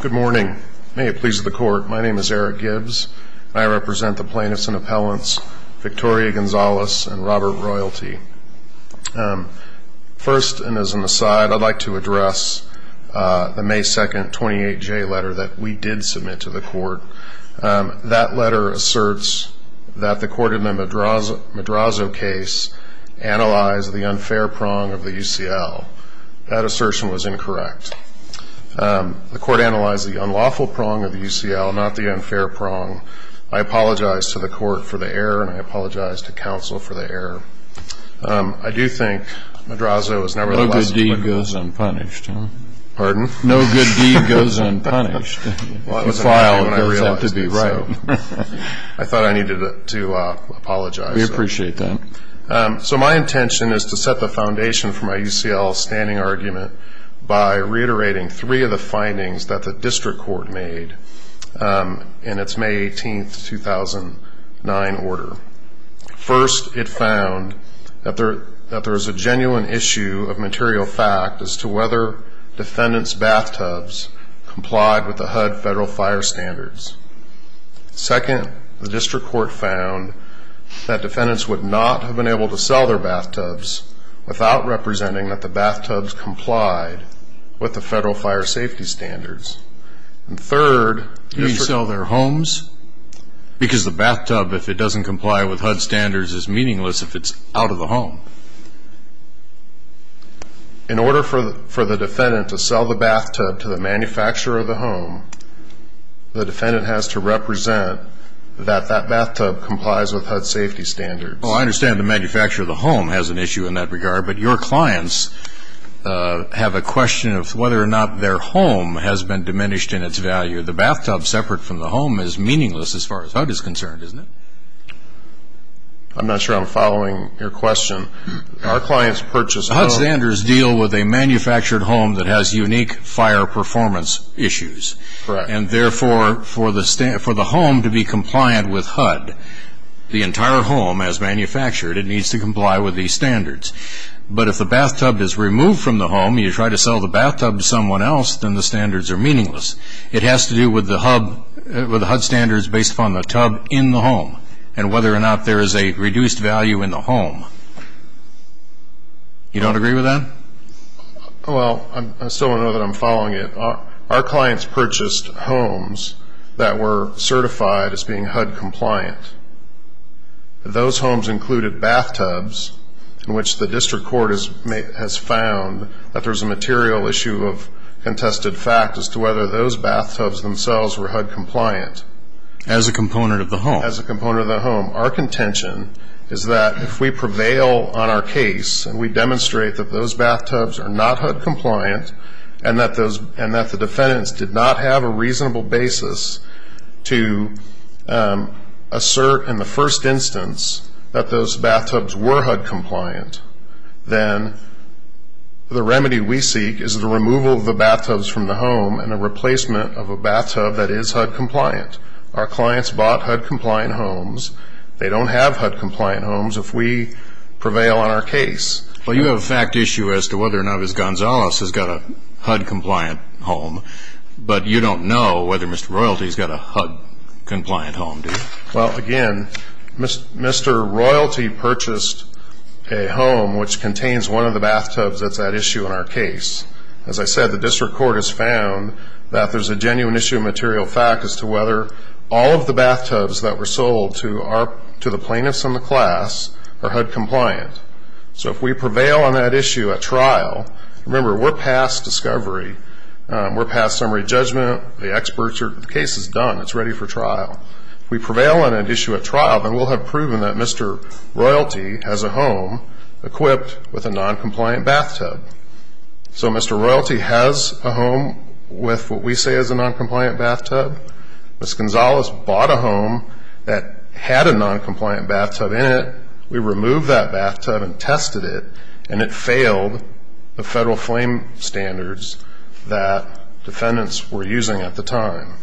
Good morning. May it please the Court, my name is Eric Gibbs and I represent the plaintiffs and appellants Victoria Gonzalez and Robert Royalty. First, and as an aside, I'd like to address the May 2nd 28J letter that we did submit to the Court. That letter asserts that the court in the Madrazo case analyzed the unfair prong of the UCL. That assertion was incorrect. The court analyzed the unlawful prong of the UCL, not the unfair prong. I apologize to the court for the error and I apologize to counsel for the error. I do think Madrazo was never the less... No good deed goes unpunished. Pardon? No good deed goes unpunished. I thought I needed to apologize. We appreciate that. So my intention is to set the foundation for my UCL standing argument by reiterating three of the findings that the district court made in its May 18th 2009 order. First, it found that there is a genuine issue of material fact as to whether defendants' bathtubs complied with the HUD federal fire standards. Second, the district court found that defendants would not have been able to sell their homes without representing that the bathtubs complied with the federal fire safety standards. And third... You mean sell their homes? Because the bathtub, if it doesn't comply with HUD standards, is meaningless if it's out of the home. In order for the defendant to sell the bathtub to the manufacturer of the home, the defendant has to represent that that bathtub complies with HUD safety standards. Well, I understand the manufacturer of the home has an issue in that regard, but your clients have a question of whether or not their home has been diminished in its value. The bathtub separate from the home is meaningless as far as HUD is concerned, isn't it? I'm not sure I'm following your question. Our clients purchase... HUD standards deal with a manufactured home that has unique fire performance issues. Correct. And therefore, for the home to be compliant with HUD, the entire home as manufactured, it has to comply with HUD safety standards. But if the bathtub is removed from the home, you try to sell the bathtub to someone else, then the standards are meaningless. It has to do with the HUD standards based upon the tub in the home and whether or not there is a reduced value in the home. You don't agree with that? Well, I still don't know that I'm following it. Our clients purchased homes that were certified as being HUD compliant. Those homes included bathtubs in which the district court has found that there's a material issue of contested fact as to whether those bathtubs themselves were HUD compliant. As a component of the home? As a component of the home. Our contention is that if we prevail on our case and we demonstrate that those bathtubs are not HUD compliant and that the defendants did not have a reasonable basis to assert in the first instance that those bathtubs were HUD compliant, then the remedy we seek is the removal of the bathtubs from the home and a replacement of a bathtub that is HUD compliant. Our clients bought HUD compliant homes. They don't have HUD compliant homes if we prevail on our case. Well, you have a fact issue as to whether or not Ms. Gonzalez has got a HUD compliant home, but you don't know whether Mr. Royalty has got a HUD compliant home, do you? Well, again, Mr. Royalty purchased a home which contains one of the bathtubs that's at issue in our case. As I said, the district court has found that there's a genuine issue of material fact as to whether all of the bathtubs that were sold to the plaintiffs in the Remember, we're past discovery. We're past summary judgment. The case is done. It's ready for trial. If we prevail on an issue at trial, then we'll have proven that Mr. Royalty has a home equipped with a noncompliant bathtub. So Mr. Royalty has a home with what we say is a noncompliant bathtub. Ms. Gonzalez bought a home that had a noncompliant bathtub in it. We removed that bathtub and tested it, and it failed the federal flame standards that defendants were using at the time.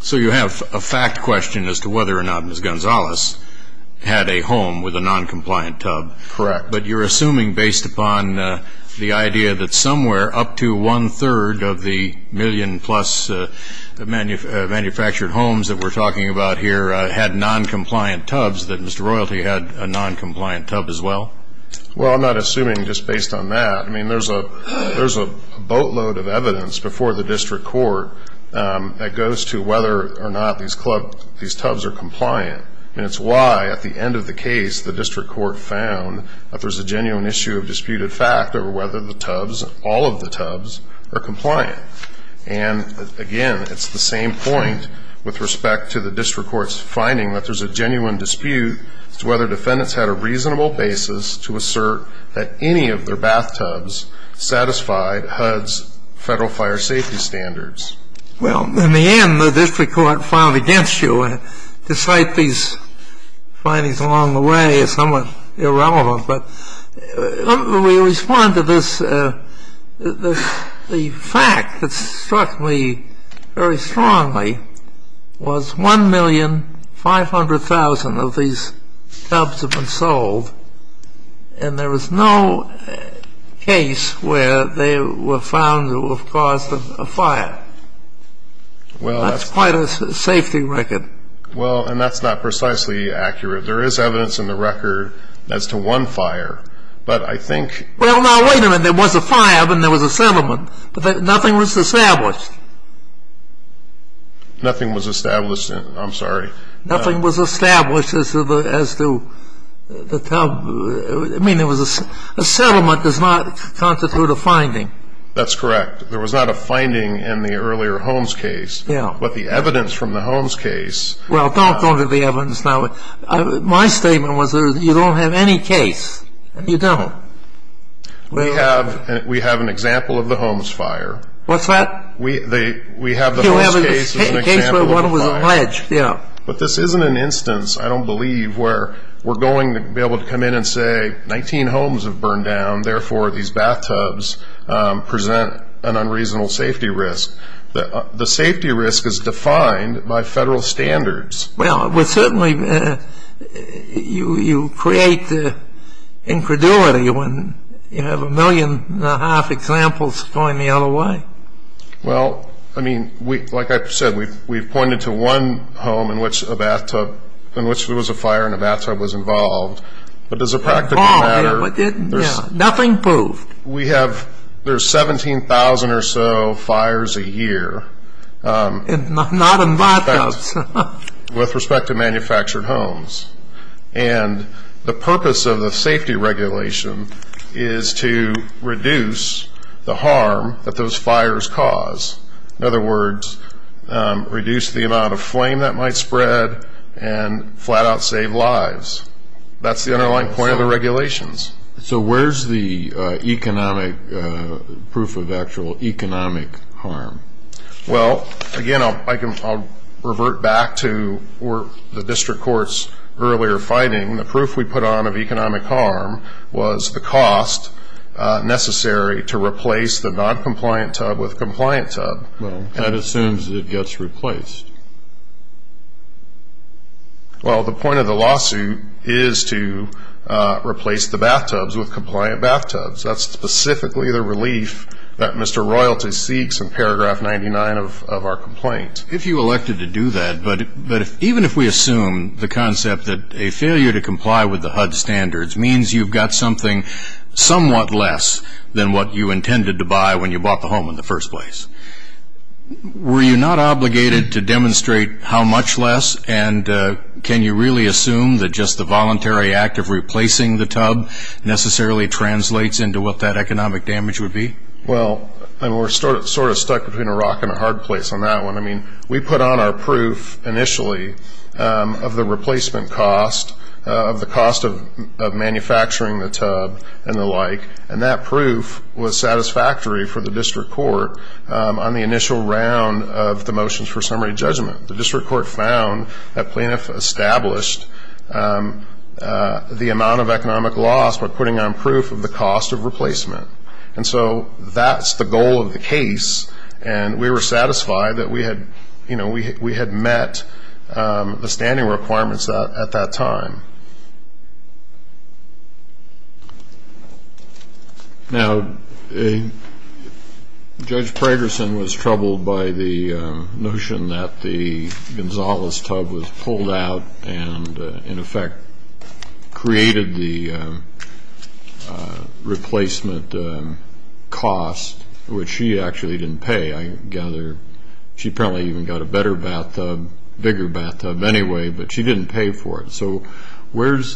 So you have a fact question as to whether or not Ms. Gonzalez had a home with a noncompliant tub. Correct. But you're assuming based upon the idea that somewhere up to had noncompliant tubs, that Mr. Royalty had a noncompliant tub as well? Well, I'm not assuming just based on that. I mean, there's a boatload of evidence before the district court that goes to whether or not these tubs are compliant. And it's why at the end of the case the district court found that there's a genuine issue of disputed fact over whether the tubs, all of the tubs, are compliant. And again, it's the same point with respect to the finding that there's a genuine dispute as to whether defendants had a reasonable basis to assert that any of their bathtubs satisfied HUD's federal fire safety standards. Well, in the end, the district court filed against you. To cite these findings along the way is somewhat irrelevant, but we respond to this. The fact that struck me very strongly was 1,500,000 of these tubs have been sold, and there was no case where they were found to have caused a fire. Well, that's quite a safety record. Well, and that's not precisely accurate. There is evidence in the record as to one fire, but I think... Well, now, wait a minute. There was a fire, but there was a settlement. Nothing was established. Nothing was established. I'm sorry. Nothing was established as to the tub. I mean, there was a settlement does not constitute a finding. That's correct. There was not a finding in the earlier Holmes case. Yeah. But the evidence from the Holmes case... Well, don't go into the evidence now. My statement was you don't have any case. You don't. We have an example of the Holmes fire. What's that? We have the Holmes case as an example of the fire. But this isn't an instance, I don't believe, where we're going to be able to come in and say 19 Holmes have burned down, therefore these bathtubs present an unreasonable safety risk. The safety risk is defined by federal standards. Well, it would certainly... You create the incredulity when you have a million and a half examples going the other way. Well, I mean, like I said, we've pointed to one home in which a bathtub, in which there was a fire and a bathtub was involved, but does it practically matter? Nothing proved. We have... There's 17,000 or so fires a year. Not in bathtubs. With respect to manufactured homes. And the purpose of the safety regulation is to reduce the harm that those fires cause. In other words, reduce the amount of flame that might spread and flat out save lives. That's the underlying point of the regulations. So where's the economic proof of actual economic harm? Well, again, I'll revert back to the district court's earlier finding. The proof we put on of economic harm was the cost necessary to replace the non-compliant tub with a compliant tub. Well, that assumes it gets replaced. Well, the point of the lawsuit is to replace the bathtubs with compliant bathtubs. That's specifically the relief that Mr. Royalty seeks in paragraph 99 of our complaint. If you elected to do that, but even if we assume the concept that a failure to comply with the HUD standards means you've got something somewhat less than what you intended to buy when you bought the home in the first place, were you not obligated to demonstrate how much less? And can you really assume that just the voluntary act of replacing the tub necessarily translates into what that economic damage would be? Well, we're sort of stuck between a rock and a hard place on that one. I mean, we put on our proof initially of the replacement cost, of the cost of manufacturing the tub and the like. And that proof was satisfactory for the district court on the initial round of the motions for summary judgment. The district court found that plaintiff established the amount of economic loss by putting on proof of the cost of replacement. And so that's the goal of the case. And we were satisfied that we had, you know, we had met the standing requirements at that time. Now, Judge Pragerson was troubled by the notion that the Gonzales tub was pulled out and in effect created the replacement cost, which she Where's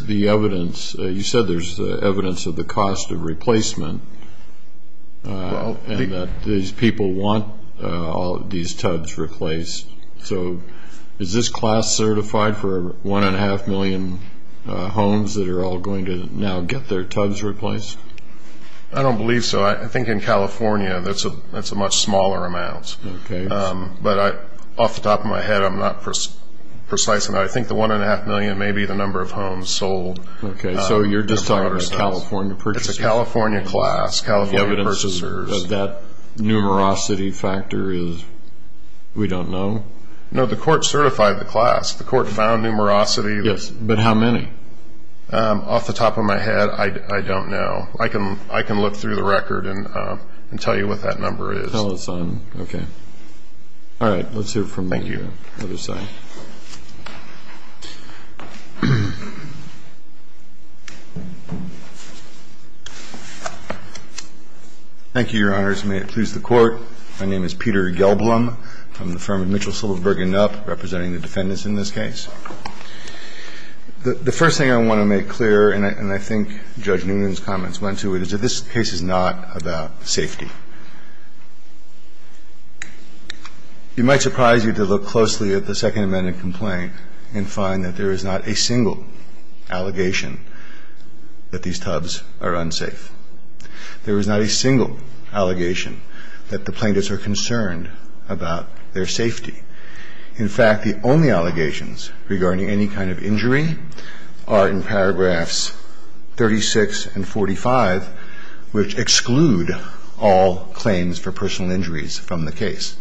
the evidence? You said there's evidence of the cost of replacement and that these people want all of these tubs replaced. So is this class certified for 1.5 million homes that are all going to now get their tubs replaced? I don't believe so. I think in California that's a much smaller amount. But off the top of my head, I'm not precise enough. I think the 1.5 million may be the number of homes sold. Okay. So you're just talking about California purchasers? It's a California class, California purchasers. But that numerosity factor is, we don't know? No, the court certified the class. The court found numerosity. Yes. But how many? Off the top of my head, I don't know. I can look through the record and tell you what that number is. Okay. All right. Let's hear from the other side. Thank you, Your Honors. May it please the Court. My name is Peter Gelblum. I'm from the firm of Mitchell Silverberg and Knopp, representing the defendants in this case. The first thing I want to make clear, and I think Judge Newman's comments went to it, is that this case is not about safety. You might surprise you to look closely at the Second Amendment complaint and find that there is not a single allegation that these tubs are unsafe. There is not a single allegation that the plaintiffs are concerned about their safety. In fact, the only allegations regarding any kind of injury are in paragraphs 36 and 45, which exclude all claims for personal injuries from the case.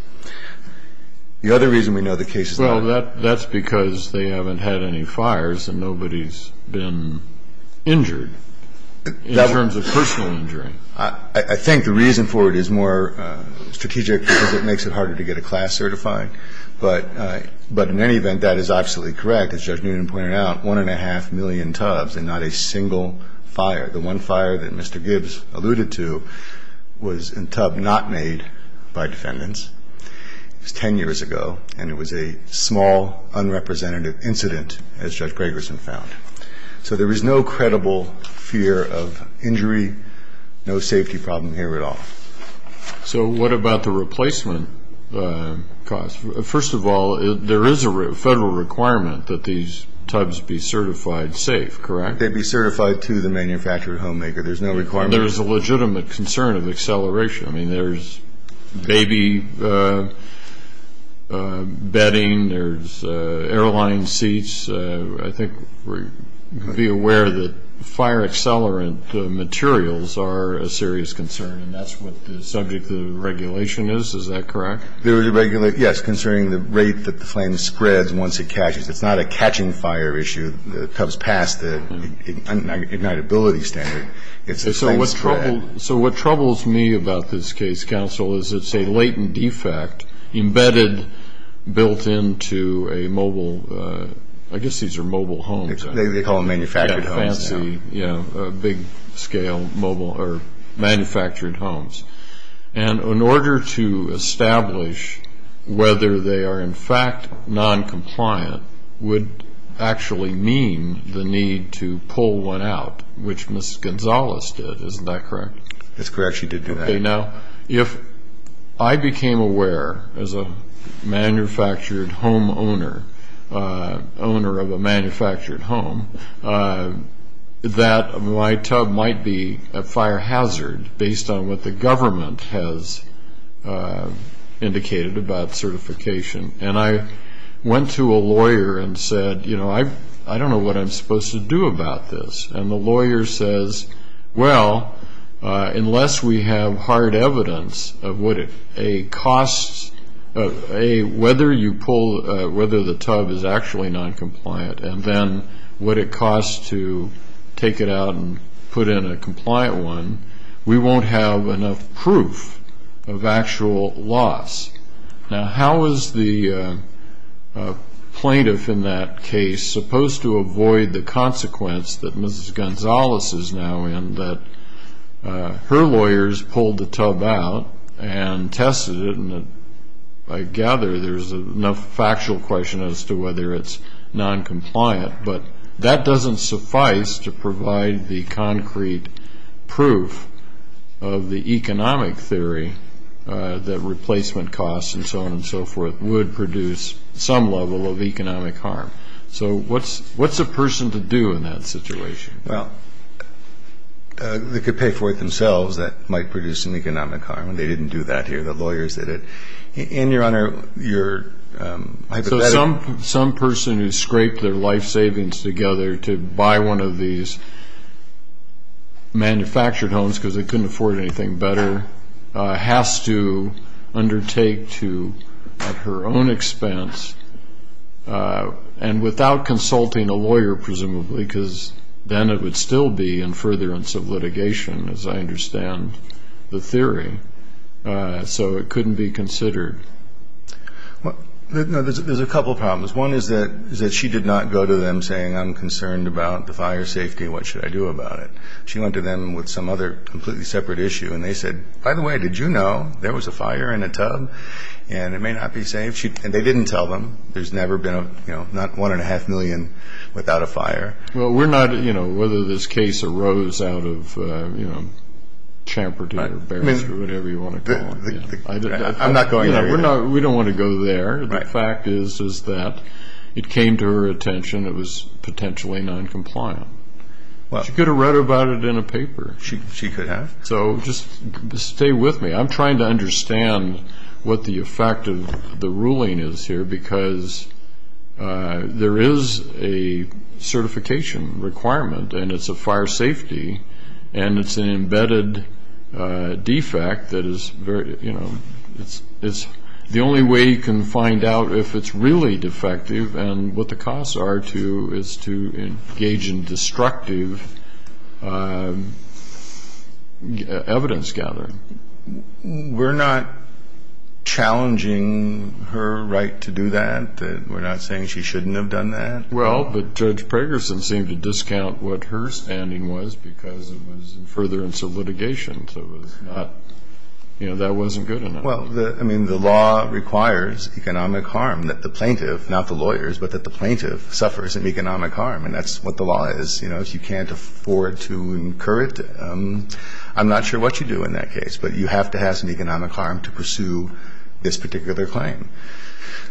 The other reason we know the case is that they haven't had any fires and nobody's been injured in terms of personal injury. I think the reason for it is more strategic because it makes it harder to get a class certifying. But in any event, that is absolutely correct, as Judge Newman pointed out, one and a half million tubs and not a single fire. The one fire that Mr. Gibbs alluded to was a tub not made by defendants. It was 10 years ago, and it was a small, unrepresentative incident, as Judge Gregerson found. So there is no credible fear of injury, no safety problem here at all. So what about the replacement cost? First of all, there is a federal requirement that these tubs be certified safe, correct? They'd be certified to the manufacturer and homemaker. There's no requirement. There is a legitimate concern of acceleration. I mean, there's baby bedding. There's airline seats. I think we're aware that fire accelerant materials are a serious concern, and that's what the subject of the regulation is. Is that correct? Yes, concerning the rate that the flame spreads once it catches. It's not a catching fire issue. The tub's past the ignitability standard. So what troubles me about this case, counsel, is it's a latent defect embedded, built into a mobile, I guess these are mobile homes. They call them manufactured homes now. Yeah, big scale manufactured homes. And in order to establish whether they are in fact non-compliant, would actually mean the need to pull one out, which Ms. Gonzalez did, isn't that correct? That's correct, she did do that. Now, if I became aware as a manufactured home owner, owner of a manufactured home, that my tub might be a fire hazard based on what the government has indicated about certification. And I went to a lawyer and said, you know, I don't know what I'm supposed to do about this. And the lawyer says, well, unless we have hard evidence of whether the tub is actually non-compliant, and then what it costs to take it out and put in a compliant one, we won't have enough proof of actual loss. Now, how is the plaintiff in that case supposed to avoid the consequence that Ms. Gonzalez is now in, that her lawyers pulled the tub out and tested it, and I gather there's enough factual question as to whether it's non-compliant. But that doesn't suffice to provide the concrete proof of the economic theory that replacement costs and so on and so forth would produce some level of economic harm. So what's a person to do in that situation? Well, they could pay for it themselves. That might produce some economic harm, and they didn't do that here. The lawyers did it. And, Your Honor, your hypothetical. So some person who scraped their life savings together to buy one of these manufactured homes because they couldn't afford anything better has to undertake to, at her own expense, and without consulting a lawyer, presumably, because then it would still be in furtherance of litigation, as I understand the theory. So it couldn't be considered. Well, there's a couple of problems. One is that she did not go to them saying, I'm concerned about the fire safety. What should I do about it? She went to them with some other completely separate issue, and they said, by the way, did you know there was a fire in a tub? And it may not be safe. And they didn't tell them. There's never been a, you know, not one and a half million without a fire. Well, we're not, you know, whether this case arose out of, you know, champerty or barriers or whatever you want to call it. I'm not going there. We don't want to go there. The fact is, is that it came to her attention it was potentially noncompliant. She could have read about it in a paper. She could have. So just stay with me. I'm trying to understand what the effect of the ruling is here, because there is a certification requirement, and it's a fire safety, and it's an embedded defect that is very, you know, it's the only way you can find out if it's really defective, and what the costs are to is to engage in destructive evidence gathering. We're not challenging her right to do that? We're not saying she shouldn't have done that? Well, but Judge Pragerson seemed to discount what her standing was, because it was furtherance of litigation. So it was not, you know, that wasn't good enough. Well, I mean, the law requires economic harm that the plaintiff, not the lawyers, but that the plaintiff suffers an economic harm. And that's what the law is. You know, if you can't afford to incur it, I'm not sure what you do in that case. But you have to have some economic harm to pursue this particular claim.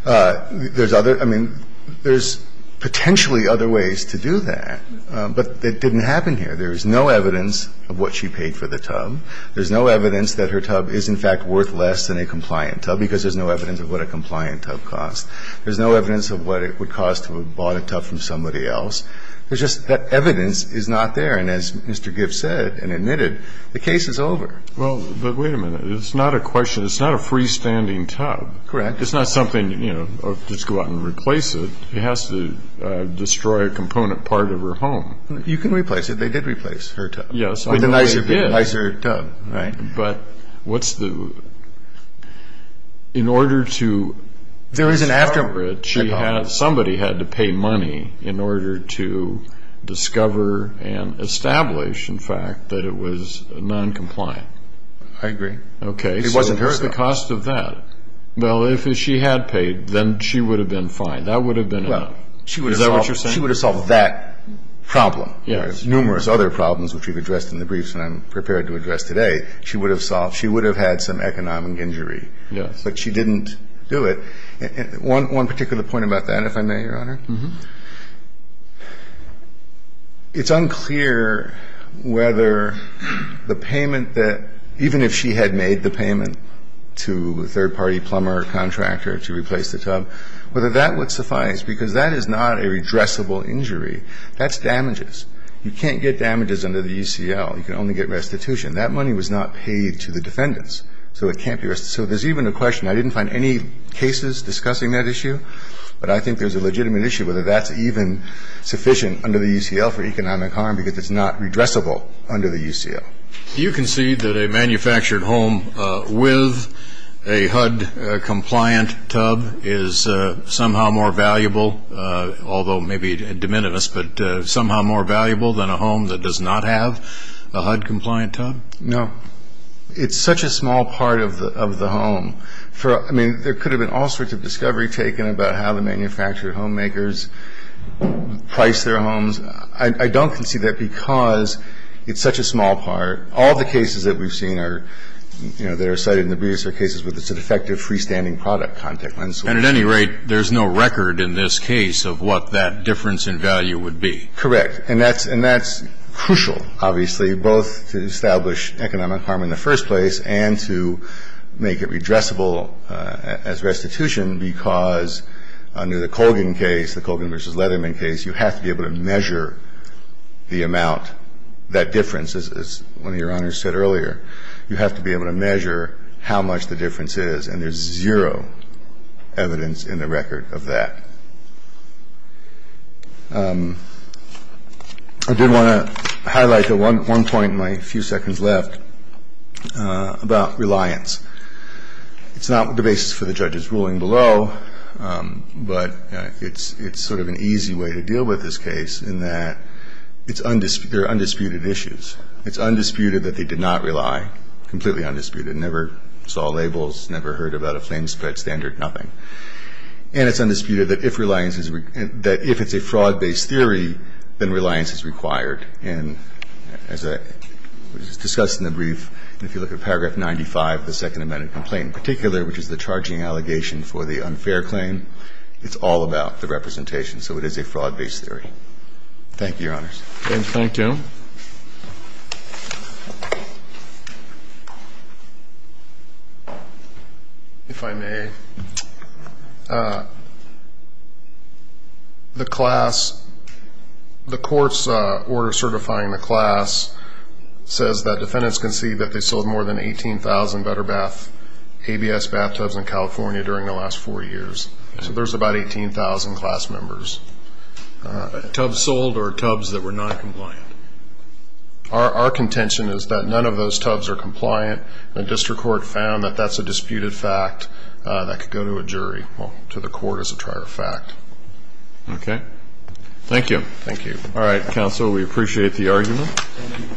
There's other – I mean, there's potentially other ways to do that, but it didn't happen here. There is no evidence of what she paid for the tub. There's no evidence that her tub is, in fact, worth less than a compliant tub, because there's no evidence of what a compliant tub costs. There's no evidence of what it would cost to have bought a tub from somebody else. There's just – that evidence is not there. And as Mr. Gibbs said and admitted, the case is over. Well, but wait a minute. It's not a question – it's not a freestanding tub. Correct. It's not something, you know, just go out and replace it. It has to destroy a component part of her home. You can replace it. They did replace her tub. Yes, I know they did. With a nicer tub, right? But what's the – in order to discover it, she had – somebody had to pay money in order to discover and establish, in fact, that it was noncompliant. I agree. Okay. It wasn't her though. So what's the cost of that? Well, if she had paid, then she would have been fine. That would have been enough. Is that what you're saying? She would have solved that problem. Yes. Numerous other problems, which we've addressed in the briefs and I'm prepared to address today, she would have solved. She would have had some economic injury. Yes. But she didn't do it. One particular point about that, if I may, Your Honor. It's unclear whether the payment that – even if she had made the payment to a third-party plumber or contractor to replace the tub, whether that would suffice, because that is not a redressable injury. That's damages. You can't get damages under the ECL. You can only get restitution. That money was not paid to the defendants, so it can't be – so there's even a question – I didn't find any cases discussing that issue, but I think there's a legitimate issue whether that's even sufficient under the ECL for economic harm, because it's not redressable under the ECL. Do you concede that a manufactured home with a HUD-compliant tub is somehow more valuable, although maybe de minimis, but somehow more valuable than a home that does not have a HUD-compliant tub? No. It's such a small part of the home. I mean, there could have been all sorts of discovery taken about how the manufactured homemakers price their homes. I don't concede that, because it's such a small part. All the cases that we've seen are – you know, that are cited in the briefs are cases where it's an effective freestanding product consequence. And at any rate, there's no record in this case of what that difference in value would be. Correct. And that's – and that's crucial, obviously, both to establish economic harm in the first place and to make it redressable as restitution, because under the Colgan case, the Colgan v. Leatherman case, you have to be able to measure the amount, that difference. As one of Your Honors said earlier, you have to be able to measure how much the difference is. And there's zero evidence in the record of that. I did want to highlight one point in my few seconds left about reliance. It's not the basis for the judge's ruling below, but it's sort of an easy way to deal with this case in that it's – they're undisputed issues. It's undisputed that they did not rely, completely undisputed. Never saw labels, never heard about a flame spread standard, nothing. And it's undisputed that if reliance is – that if it's a fraud-based theory, then reliance is required. And as was discussed in the brief, if you look at paragraph 95 of the Second Amended Complaint in particular, which is the charging allegation for the unfair claim, it's all about the representation. So it is a fraud-based theory. Thank you, Your Honors. Thank you. Thank you. If I may, the class – the court's order certifying the class says that defendants can see that they sold more than 18,000 BetterBath ABS bathtubs in California during the last four years. So there's about 18,000 class members. Tubs sold or tubs that were noncompliant? Our contention is that none of those tubs are compliant. The district court found that that's a disputed fact that could go to a jury – well, to the court as a prior fact. Okay. Thank you. Thank you. All right, counsel, we appreciate the argument. Thank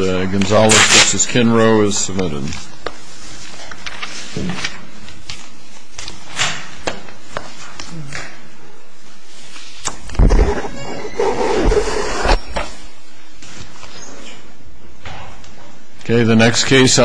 you. And Gonzales v. Kinrow is submitted. Thank you.